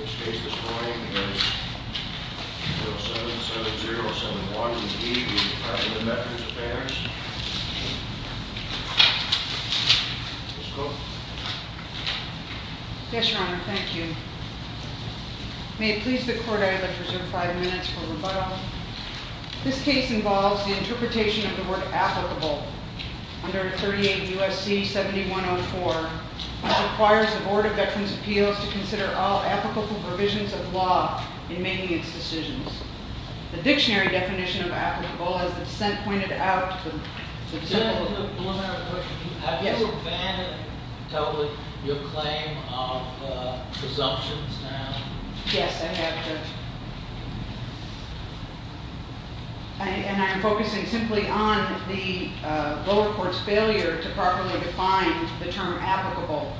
Which case this morning is 077071 v. DVA, the methods of banners. Yes, your honor, thank you. May it please the court I would like to reserve five minutes for rebuttal. This case involves the interpretation of the word applicable under 38 U.S.C. 7104 which requires the Board of Veterans' Appeals to consider all applicable provisions of law in making its decisions. The dictionary definition of applicable, as the dissent pointed out, Have you abandoned totally your claim of presumptions, your honor? Yes, I have, Judge. And I am focusing simply on the lower court's failure to properly define the term applicable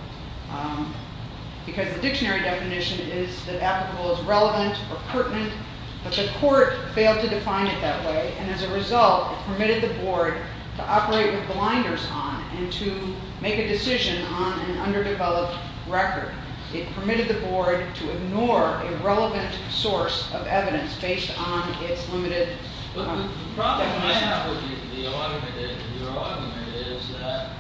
because the dictionary definition is that applicable is relevant or pertinent, but the court failed to define it that way and as a result it permitted the board to operate with blinders on and to make a decision on an underdeveloped record. It permitted the board to ignore a relevant source of evidence based on its limited But the problem I have with your argument is that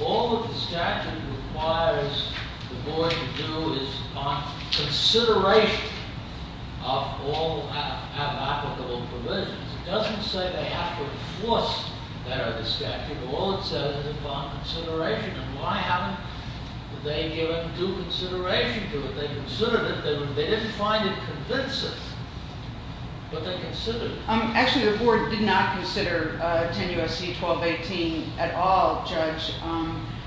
all that the statute requires the board to do is upon consideration of all applicable provisions. It doesn't say they have to enforce that under the statute. All it says is upon consideration. And why haven't they given due consideration to it? They considered it, they didn't find it convincing, but they considered it. Actually, the board did not consider 10 U.S.C. 1218 at all, Judge.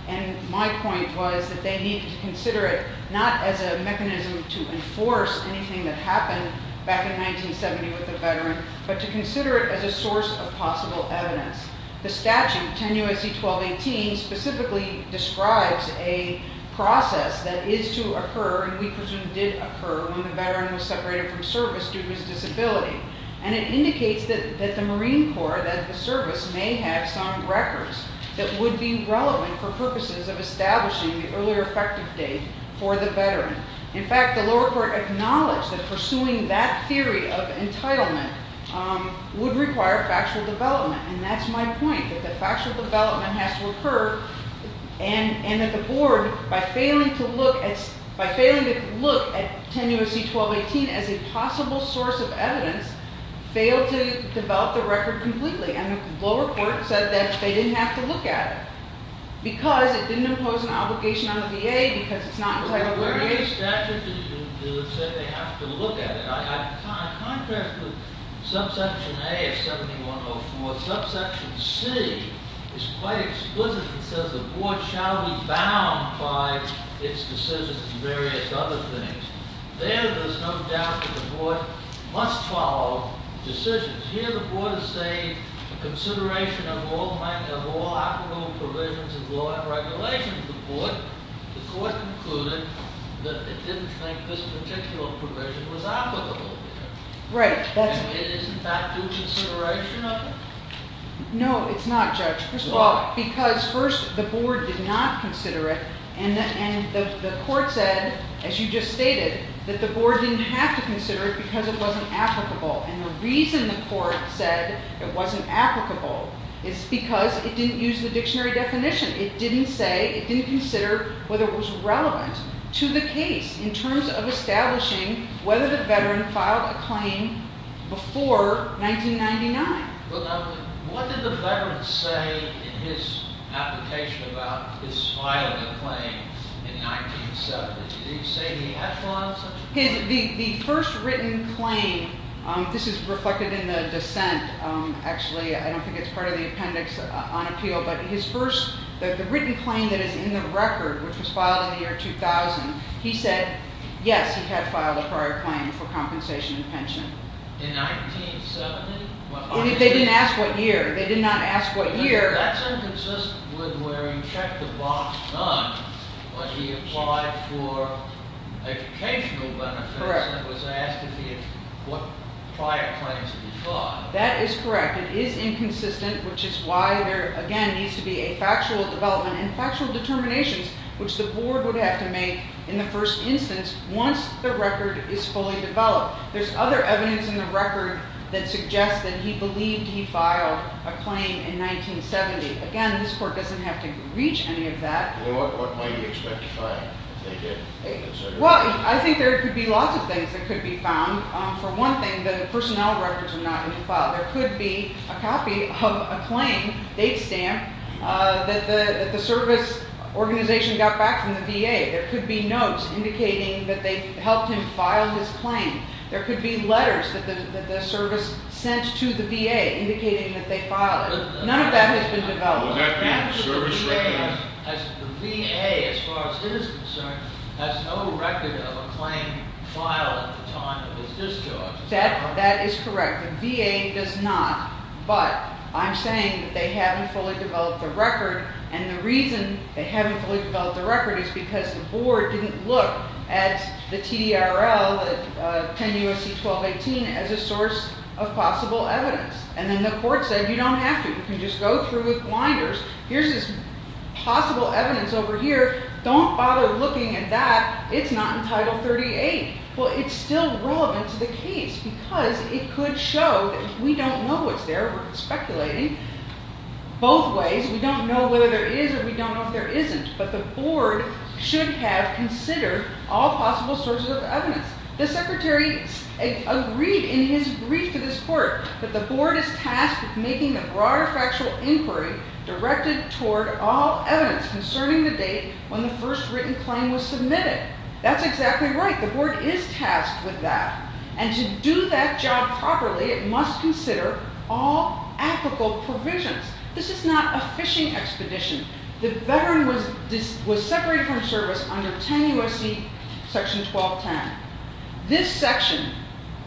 And my point was that they needed to consider it not as a mechanism to enforce anything that happened back in 1970 with the veteran, but to consider it as a source of possible evidence. The statute, 10 U.S.C. 1218, specifically describes a process that is to occur and we presume did occur when the veteran was separated from service due to his disability. And it indicates that the Marine Corps, that the service, may have some records that would be relevant for purposes of establishing the earlier effective date for the veteran. In fact, the lower court acknowledged that pursuing that theory of entitlement would require factual development. And that's my point, that the factual development has to occur and that the board, by failing to look at 10 U.S.C. 1218 as a possible source of evidence, failed to develop the record completely. And the lower court said that they didn't have to look at it because it didn't impose an obligation on the VA because it's not entitled to a VA. The VA statute didn't say they have to look at it. In contrast with subsection A of 7104, subsection C is quite explicit. It says the board shall be bound by its decisions and various other things. There, there's no doubt that the board must follow decisions. Here, the board is saying consideration of all applicable provisions of law and regulations. The court concluded that it didn't think this particular provision was applicable. Right. Isn't that due consideration of it? No, it's not, Judge. Why? Because, first, the board did not consider it, and the court said, as you just stated, that the board didn't have to consider it because it wasn't applicable. And the reason the court said it wasn't applicable is because it didn't use the dictionary definition. It didn't say, it didn't consider whether it was relevant to the case in terms of establishing whether the veteran filed a claim before 1999. Well, now, what did the veteran say in his application about his filing a claim in 1970? Did he say any echelons? The first written claim, this is reflected in the dissent, actually. I don't think it's part of the appendix on appeal. But his first, the written claim that is in the record, which was filed in the year 2000, he said, yes, he had filed a prior claim for compensation and pension. In 1970? They didn't ask what year. They did not ask what year. That's inconsistent with where he checked the box done when he applied for educational benefits and was asked what prior claims he filed. That is correct. It is inconsistent, which is why there, again, needs to be a factual development and factual determinations, which the board would have to make in the first instance once the record is fully developed. There's other evidence in the record that suggests that he believed he filed a claim in 1970. Again, this court doesn't have to reach any of that. What might he expect to find if they did? Well, I think there could be lots of things that could be found. For one thing, the personnel records are not going to be filed. There could be a copy of a claim, date stamp, that the service organization got back from the VA. There could be notes indicating that they helped him file his claim. There could be letters that the service sent to the VA indicating that they filed it. None of that has been developed. The VA, as far as his concern, has no record of a claim filed at the time of his discharge. That is correct. The VA does not, but I'm saying that they haven't fully developed the record, and the reason they haven't fully developed the record is because the board didn't look at the TDRL, 10 U.S.C. 1218, as a source of possible evidence. And then the court said, you don't have to. You can just go through with blinders. Here's this possible evidence over here. Don't bother looking at that. It's not in Title 38. Well, it's still relevant to the case because it could show that we don't know what's there. We're speculating. Both ways, we don't know whether there is or we don't know if there isn't, but the board should have considered all possible sources of evidence. The secretary agreed in his brief to this court that the board is tasked with making the broader factual inquiry directed toward all evidence concerning the date when the first written claim was submitted. That's exactly right. The board is tasked with that, and to do that job properly, it must consider all applicable provisions. This is not a fishing expedition. The veteran was separated from service under 10 U.S.C. Section 1210. This section,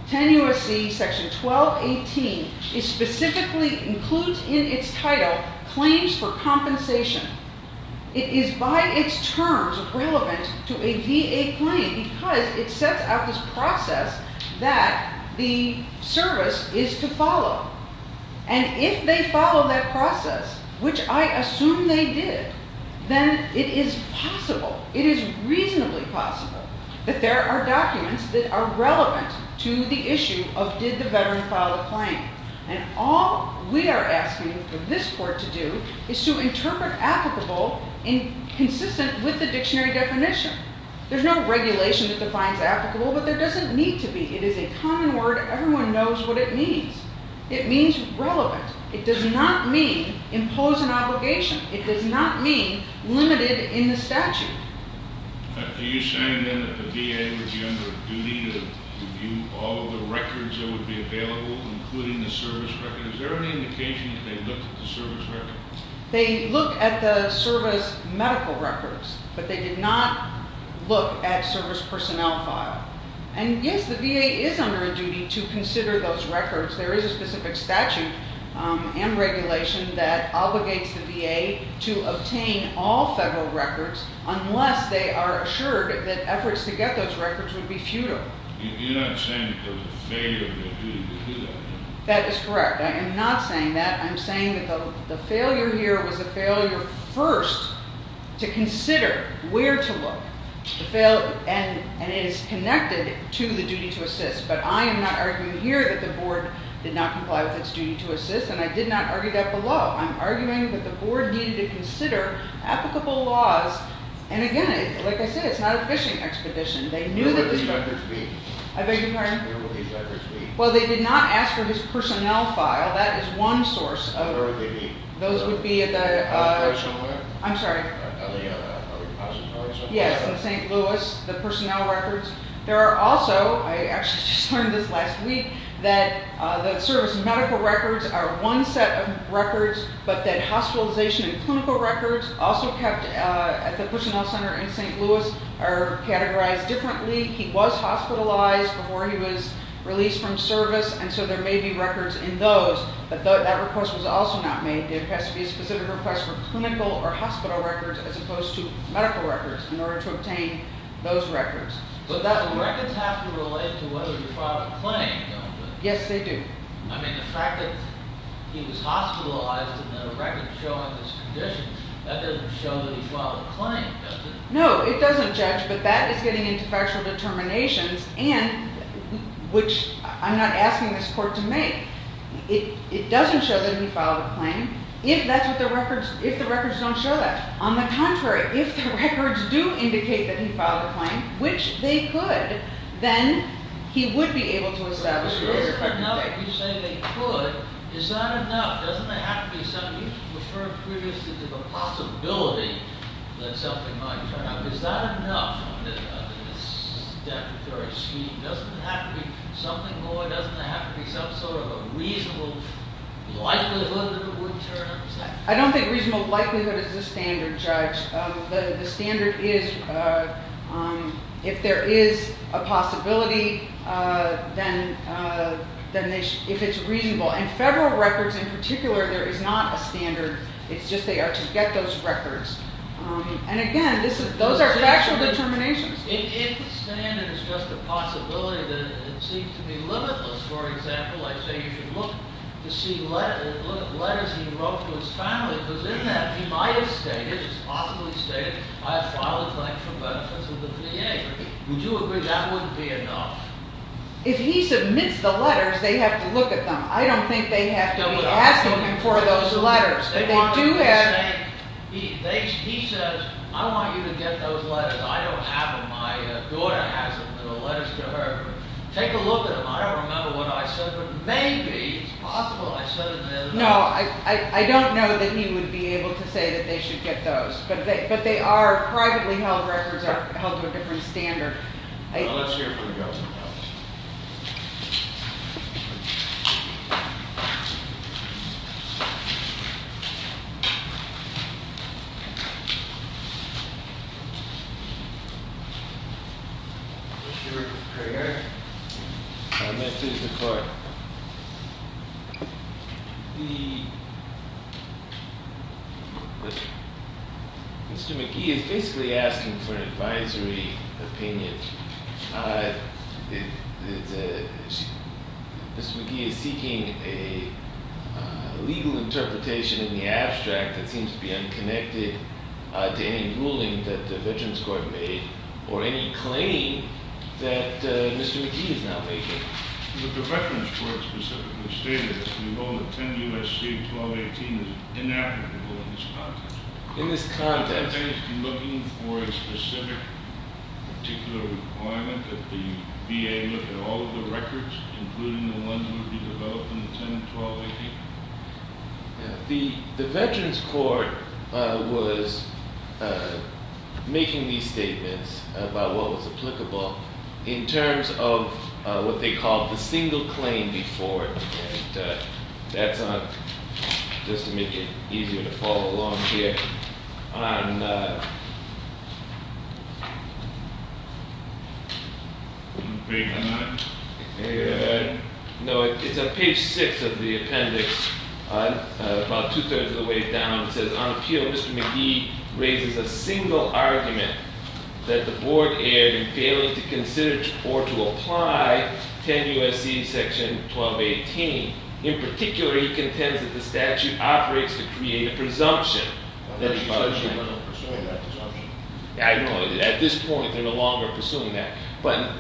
10 U.S.C. Section 1218, specifically includes in its title claims for compensation. It is by its terms relevant to a VA claim because it sets out this process that the service is to follow. And if they follow that process, which I assume they did, then it is possible, it is reasonably possible, that there are documents that are relevant to the issue of did the veteran file a claim. And all we are asking for this court to do is to interpret applicable and consistent with the dictionary definition. There's no regulation that defines applicable, but there doesn't need to be. It is a common word. Everyone knows what it means. It means relevant. It does not mean impose an obligation. It does not mean limited in the statute. Are you saying, then, that the VA would be under a duty to review all of the records that would be available, including the service record? Is there any indication that they looked at the service record? They looked at the service medical records, but they did not look at service personnel file. And, yes, the VA is under a duty to consider those records. There is a specific statute and regulation that obligates the VA to obtain all federal records unless they are assured that efforts to get those records would be futile. You're not saying because of the failure of their duty to do that, are you? That is correct. I am not saying that. I'm saying that the failure here was a failure first to consider where to look. And it is connected to the duty to assist. But I am not arguing here that the Board did not comply with its duty to assist, and I did not argue that below. I'm arguing that the Board needed to consider applicable laws. And, again, like I said, it's not a fishing expedition. Where would these records be? I beg your pardon? Where would these records be? Well, they did not ask for his personnel file. That is one source. Where would they be? Those would be at the— At the National Lab? I'm sorry. At the repository or something? Yes, in St. Louis, the personnel records. There are also—I actually just learned this last week— that the service medical records are one set of records, but that hospitalization and clinical records also kept at the personnel center in St. Louis are categorized differently. He was hospitalized before he was released from service, and so there may be records in those. But that request was also not made. There has to be a specific request for clinical or hospital records as opposed to medical records in order to obtain those records. But records have to relate to whether you filed a claim, don't they? Yes, they do. I mean, the fact that he was hospitalized and there are records showing this condition, that doesn't show that he filed a claim, does it? No, it doesn't, Judge, but that is getting into factual determinations, and—which I'm not asking this court to make— it doesn't show that he filed a claim if the records don't show that. On the contrary, if the records do indicate that he filed a claim, which they could, then he would be able to establish that he filed a claim. If you say they could, is that enough? Doesn't there have to be some—you referred previously to the possibility that something might turn up. Is that enough? I mean, that's a very sweet—doesn't there have to be something more? Doesn't there have to be some sort of a reasonable likelihood that it would turn up? I don't think reasonable likelihood is the standard, Judge. The standard is if there is a possibility, then if it's reasonable. And federal records in particular, there is not a standard. It's just they are to get those records. And again, those are factual determinations. If the standard is just a possibility, then it seems to be limitless. For example, I say you should look to see letters he wrote to his family, because in that he might have stated, possibly stated, I filed a claim for benefits with the VA. Would you agree that wouldn't be enough? If he submits the letters, they have to look at them. I don't think they have to be asking him for those letters, but they do have— He says, I want you to get those letters. I don't have them. My daughter has them, the letters to her. Take a look at them. I don't remember what I said, but maybe it's possible. I said it the other day. No, I don't know that he would be able to say that they should get those. But they are privately held records that are held to a different standard. Let's hear from the government. Mr. Cragar? Yes, sir. I'm going to go to the court. Mr. McGee is basically asking for an advisory opinion. Mr. McGee is seeking a legal interpretation in the abstract that seems to be unconnected to any ruling that the Veterans Court made or any claim that Mr. McGee is now making. In this context? Are you looking for a specific particular requirement that the VA look at all of the records, including the ones that would be developed in the 10, 12, 18? No, it's on page six of the appendix, about two-thirds of the way down. It says, on appeal, Mr. McGee raises a single argument that the board erred in failing to consider or to apply 10 U.S.C. section 1218. In particular, he contends that the statute operates to create a presumption because you're no longer pursuing that presumption. I know. At this point, they're no longer pursuing that. But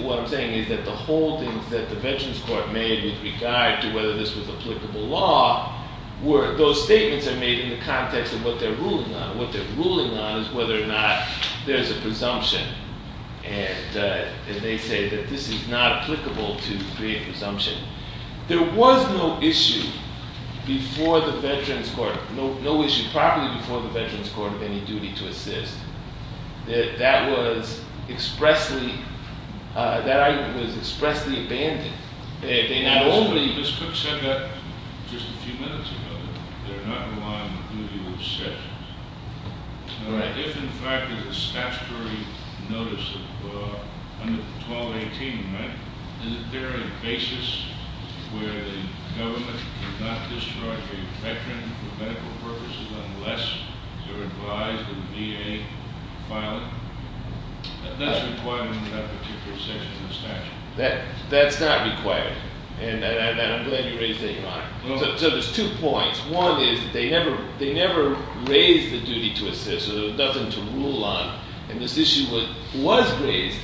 what I'm saying is that the holdings that the Veterans Court made with regard to whether this was applicable law, those statements are made in the context of what they're ruling on. What they're ruling on is whether or not there's a presumption. And they say that this is not applicable to create presumption. There was no issue before the Veterans Court, no issue properly before the Veterans Court, of any duty to assist. That was expressly abandoned. Ms. Cook said that just a few minutes ago. They're not relying on duty to assist. If, in fact, there's a statutory notice under 1218, is there a basis where the government cannot discharge a veteran for medical purposes unless they're advised of VA filing? That's required under that particular section of the statute. That's not required. And I'm glad you raised that, Your Honor. So there's two points. One is that they never raised the duty to assist, so there was nothing to rule on. And this issue was raised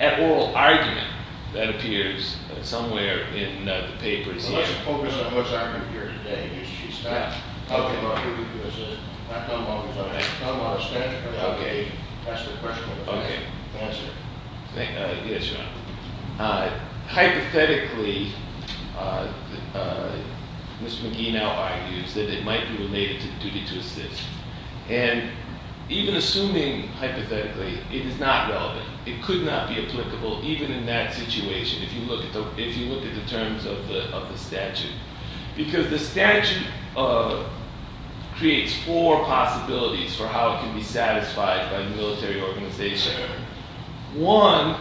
at oral argument, that appears somewhere in the papers. Well, let's focus on what's argued here today, because she's back. Okay. I'll tell you what I'm going to say. I'll tell you what I'm going to say. I'll tell you what I'm going to say. Okay. That's the question. Okay. Answer it. Yes, Your Honor. Hypothetically, Ms. McGee now argues that it might be related to the duty to assist. And even assuming hypothetically, it is not relevant. It could not be applicable, even in that situation, if you look at the terms of the statute. Because the statute creates four possibilities for how it can be satisfied by the military organization. One,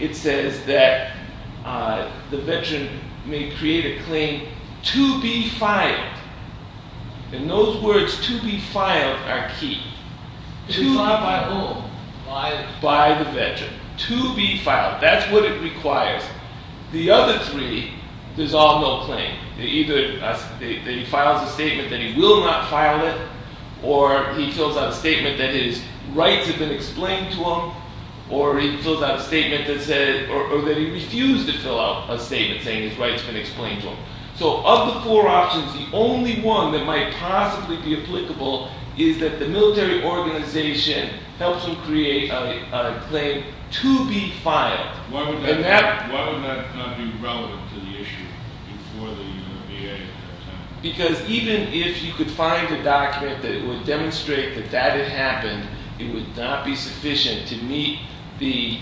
it says that the veteran may create a claim to be fired. And those words, to be filed, are key. Filed by whom? By the veteran. To be filed. That's what it requires. The other three dissolve no claim. Either he files a statement that he will not file it, or he fills out a statement that his rights have been explained to him, or he fills out a statement that says, or that he refused to fill out a statement saying his rights have been explained to him. So of the four options, the only one that might possibly be applicable is that the military organization helps him create a claim to be filed. Why would that not be relevant to the issue before the VA? Because even if you could find a document that would demonstrate that that had happened, it would not be sufficient to meet the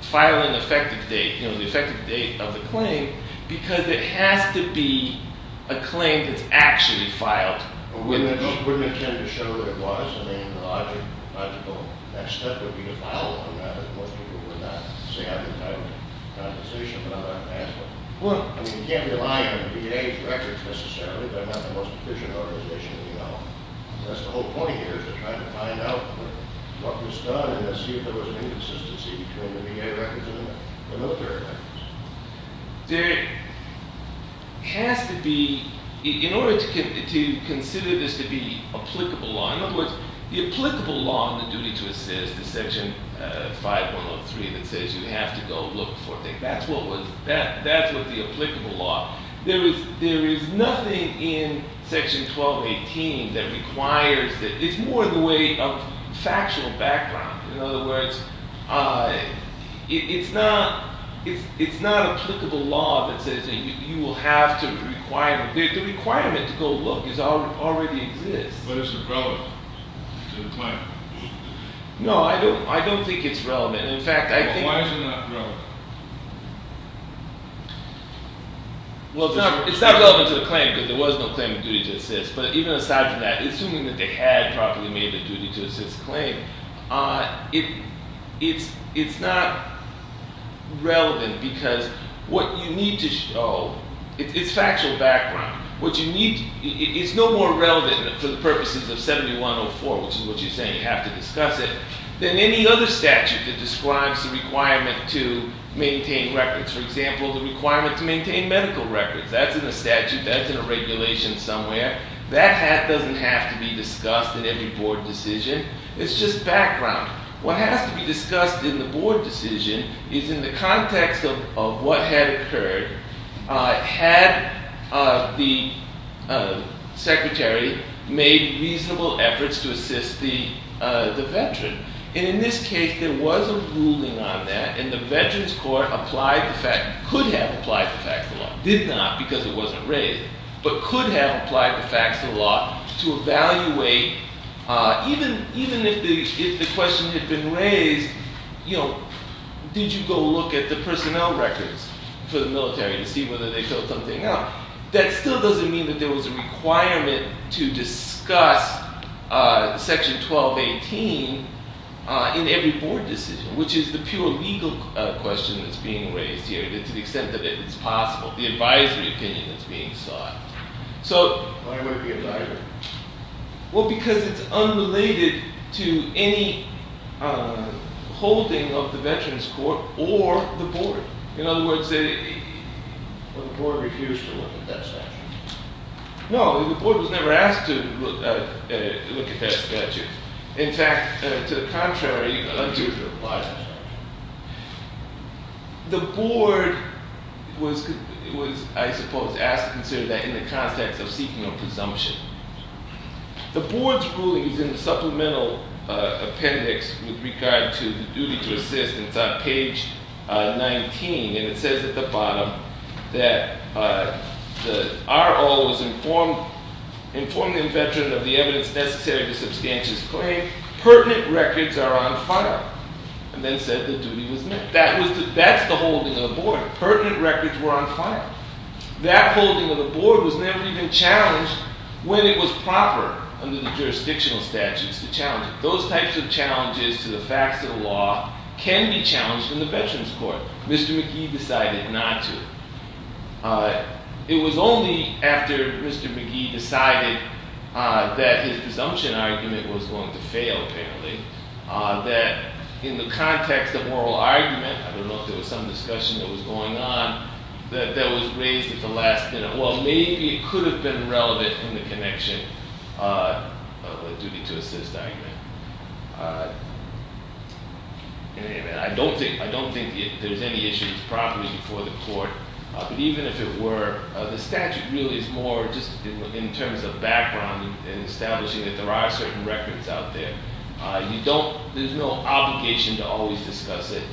filing effective date, the effective date of the claim, because it has to be a claim that's actually filed. Wouldn't it tend to show what it was? I mean, the logical next step would be to file it. Most people would not say, I didn't have a compensation, but I'm not going to ask for it. I mean, you can't rely on the VA's records necessarily. They're not the most efficient organization we know of. That's the whole point here is to try to find out what was done and see if there was an inconsistency between the VA records and the military records. There has to be, in order to consider this to be applicable law, in other words, the applicable law on the duty to assist is Section 5103 that says you have to go look for things. That's what the applicable law is. There is nothing in Section 1218 that requires that. It's more in the way of factional background. In other words, it's not applicable law that says you will have to require them. The requirement to go look already exists. But is it relevant to the claim? No, I don't think it's relevant. In fact, I think it's not relevant. It's not relevant to the claim because there was no claim of duty to assist. But even aside from that, assuming that they had properly made the duty to assist claim, it's not relevant because what you need to show is factual background. It's no more relevant for the purposes of 7104, which is what you're saying, you have to discuss it, than any other statute that describes the requirement to maintain records. For example, the requirement to maintain medical records. That's in the statute. That's in a regulation somewhere. That doesn't have to be discussed in every board decision. It's just background. What has to be discussed in the board decision is in the context of what had occurred, had the secretary made reasonable efforts to assist the veteran. And in this case, there was a ruling on that, and the Veterans Court could have applied the facts of the law. It did not because it wasn't raised, but could have applied the facts of the law to evaluate. Even if the question had been raised, you know, did you go look at the personnel records for the military to see whether they filled something out? That still doesn't mean that there was a requirement to discuss Section 1218 in every board decision, which is the pure legal question that's being raised here, to the extent that it's possible, the advisory opinion that's being sought. Why would it be a diagram? Well, because it's unrelated to any holding of the Veterans Court or the board. In other words, the board refused to look at that statute. No, the board was never asked to look at that statute. The board was, I suppose, asked to consider that in the context of seeking a presumption. The board's ruling is in the supplemental appendix with regard to the duty to assist, and it's on page 19, and it says at the bottom that the RO has informed the veteran of the evidence necessary to substantiate his claim. Pertinent records are on file, and then said the duty was met. That's the holding of the board. Pertinent records were on file. That holding of the board was never even challenged when it was proper under the jurisdictional statutes to challenge it. Those types of challenges to the facts of the law can be challenged in the Veterans Court. Mr. McGee decided not to. It was only after Mr. McGee decided that his presumption argument was going to fail, apparently, that in the context of moral argument, I don't know if there was some discussion that was going on, that was raised at the last minute. Well, maybe it could have been relevant in the connection of the duty to assist argument. I don't think there's any issues properly before the court, but even if it were, the statute really is more just in terms of background and establishing that there are certain records out there. There's no obligation to always discuss it.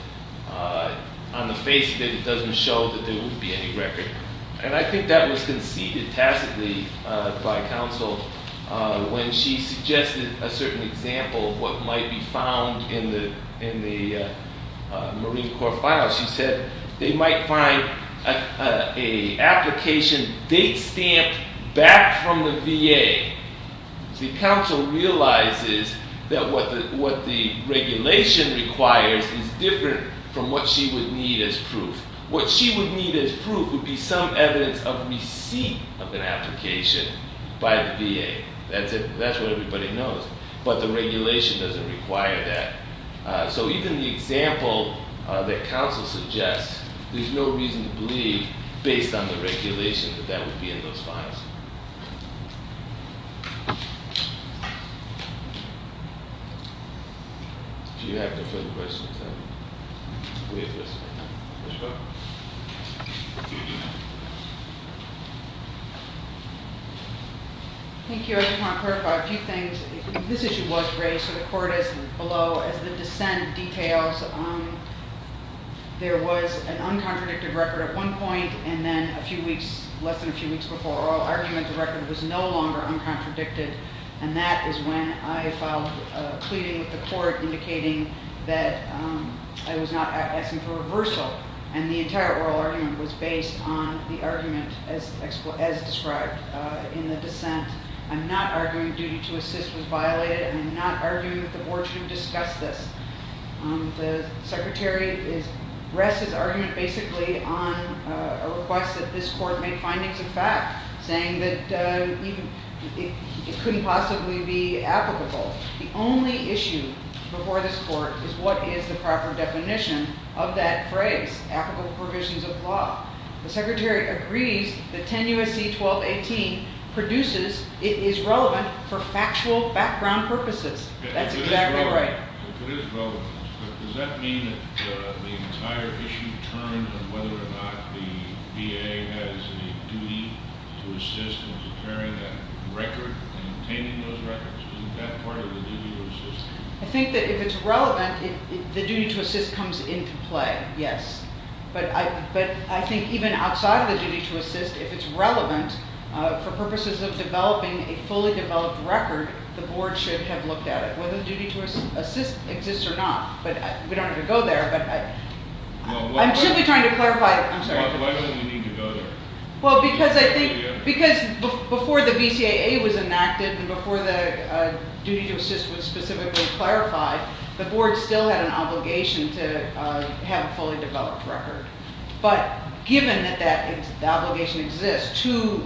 On the face of it, it doesn't show that there would be any record. And I think that was conceded tacitly by counsel when she suggested a certain example of what might be found in the Marine Corps file. She said they might find an application date stamped back from the VA. The counsel realizes that what the regulation requires is different from what she would need as proof. What she would need as proof would be some evidence of receipt of an application by the VA. That's what everybody knows. But the regulation doesn't require that. So even the example that counsel suggests, there's no reason to believe, based on the regulation, that that would be in those files. If you have different questions, please let us know. Thank you. I just want to clarify a few things. This issue was raised to the court as below, as the dissent details. There was an uncontradicted record at one point, and then a few weeks, less than a few weeks before oral argument, the record was no longer uncontradicted. And that is when I filed a pleading with the court indicating that I was not asking for reversal. And the entire oral argument was based on the argument as described in the dissent. I'm not arguing duty to assist was violated, and I'm not arguing that the board should have discussed this. The secretary rests his argument basically on a request that this court make findings of fact, saying that it couldn't possibly be applicable. The only issue before this court is what is the proper definition of that phrase, applicable provisions of law. The secretary agrees that 10 U.S.C. 1218 produces, it is relevant for factual background purposes. That's exactly right. It is relevant. Does that mean that the entire issue turns on whether or not the VA has a duty to assist in preparing that record and obtaining those records? Isn't that part of the duty to assist? I think that if it's relevant, the duty to assist comes into play, yes. But I think even outside of the duty to assist, if it's relevant, for purposes of developing a fully developed record, the board should have looked at it, whether the duty to assist exists or not. But we don't have to go there, but I'm simply trying to clarify. I'm sorry. Why doesn't he need to go there? Well, because I think, because before the BCAA was enacted and before the duty to assist was specifically clarified, the board still had an obligation to have a fully developed record. But given that that obligation exists to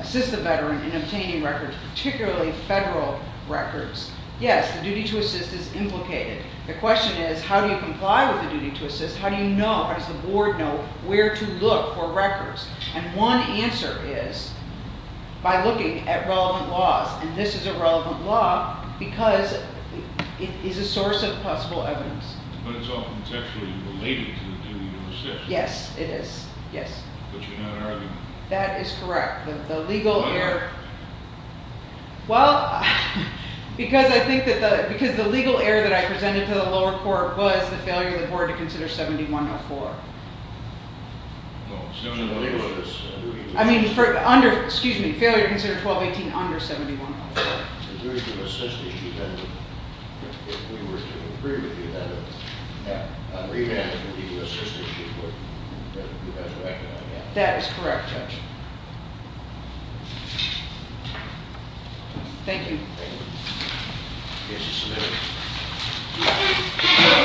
assist the veteran in obtaining records, particularly federal records, yes, the duty to assist is implicated. The question is, how do you comply with the duty to assist? How do you know, how does the board know where to look for records? And one answer is by looking at relevant laws, and this is a relevant law because it is a source of possible evidence. But it's all contextually related to the duty to assist. Yes, it is. Yes. But you're not arguing. That is correct. The legal error. Why not? Well, because I think that the, because the legal error that I presented to the lower court was the failure of the board to consider 7104. No, 7104 is. I mean, for under, excuse me, failure to consider 1218 under 7104. The duty to assist the defendant, if we were to agree with the defendant. Yeah. Remand the duty to assist the defendant. That is correct. Thank you. Thank you. The case is submitted.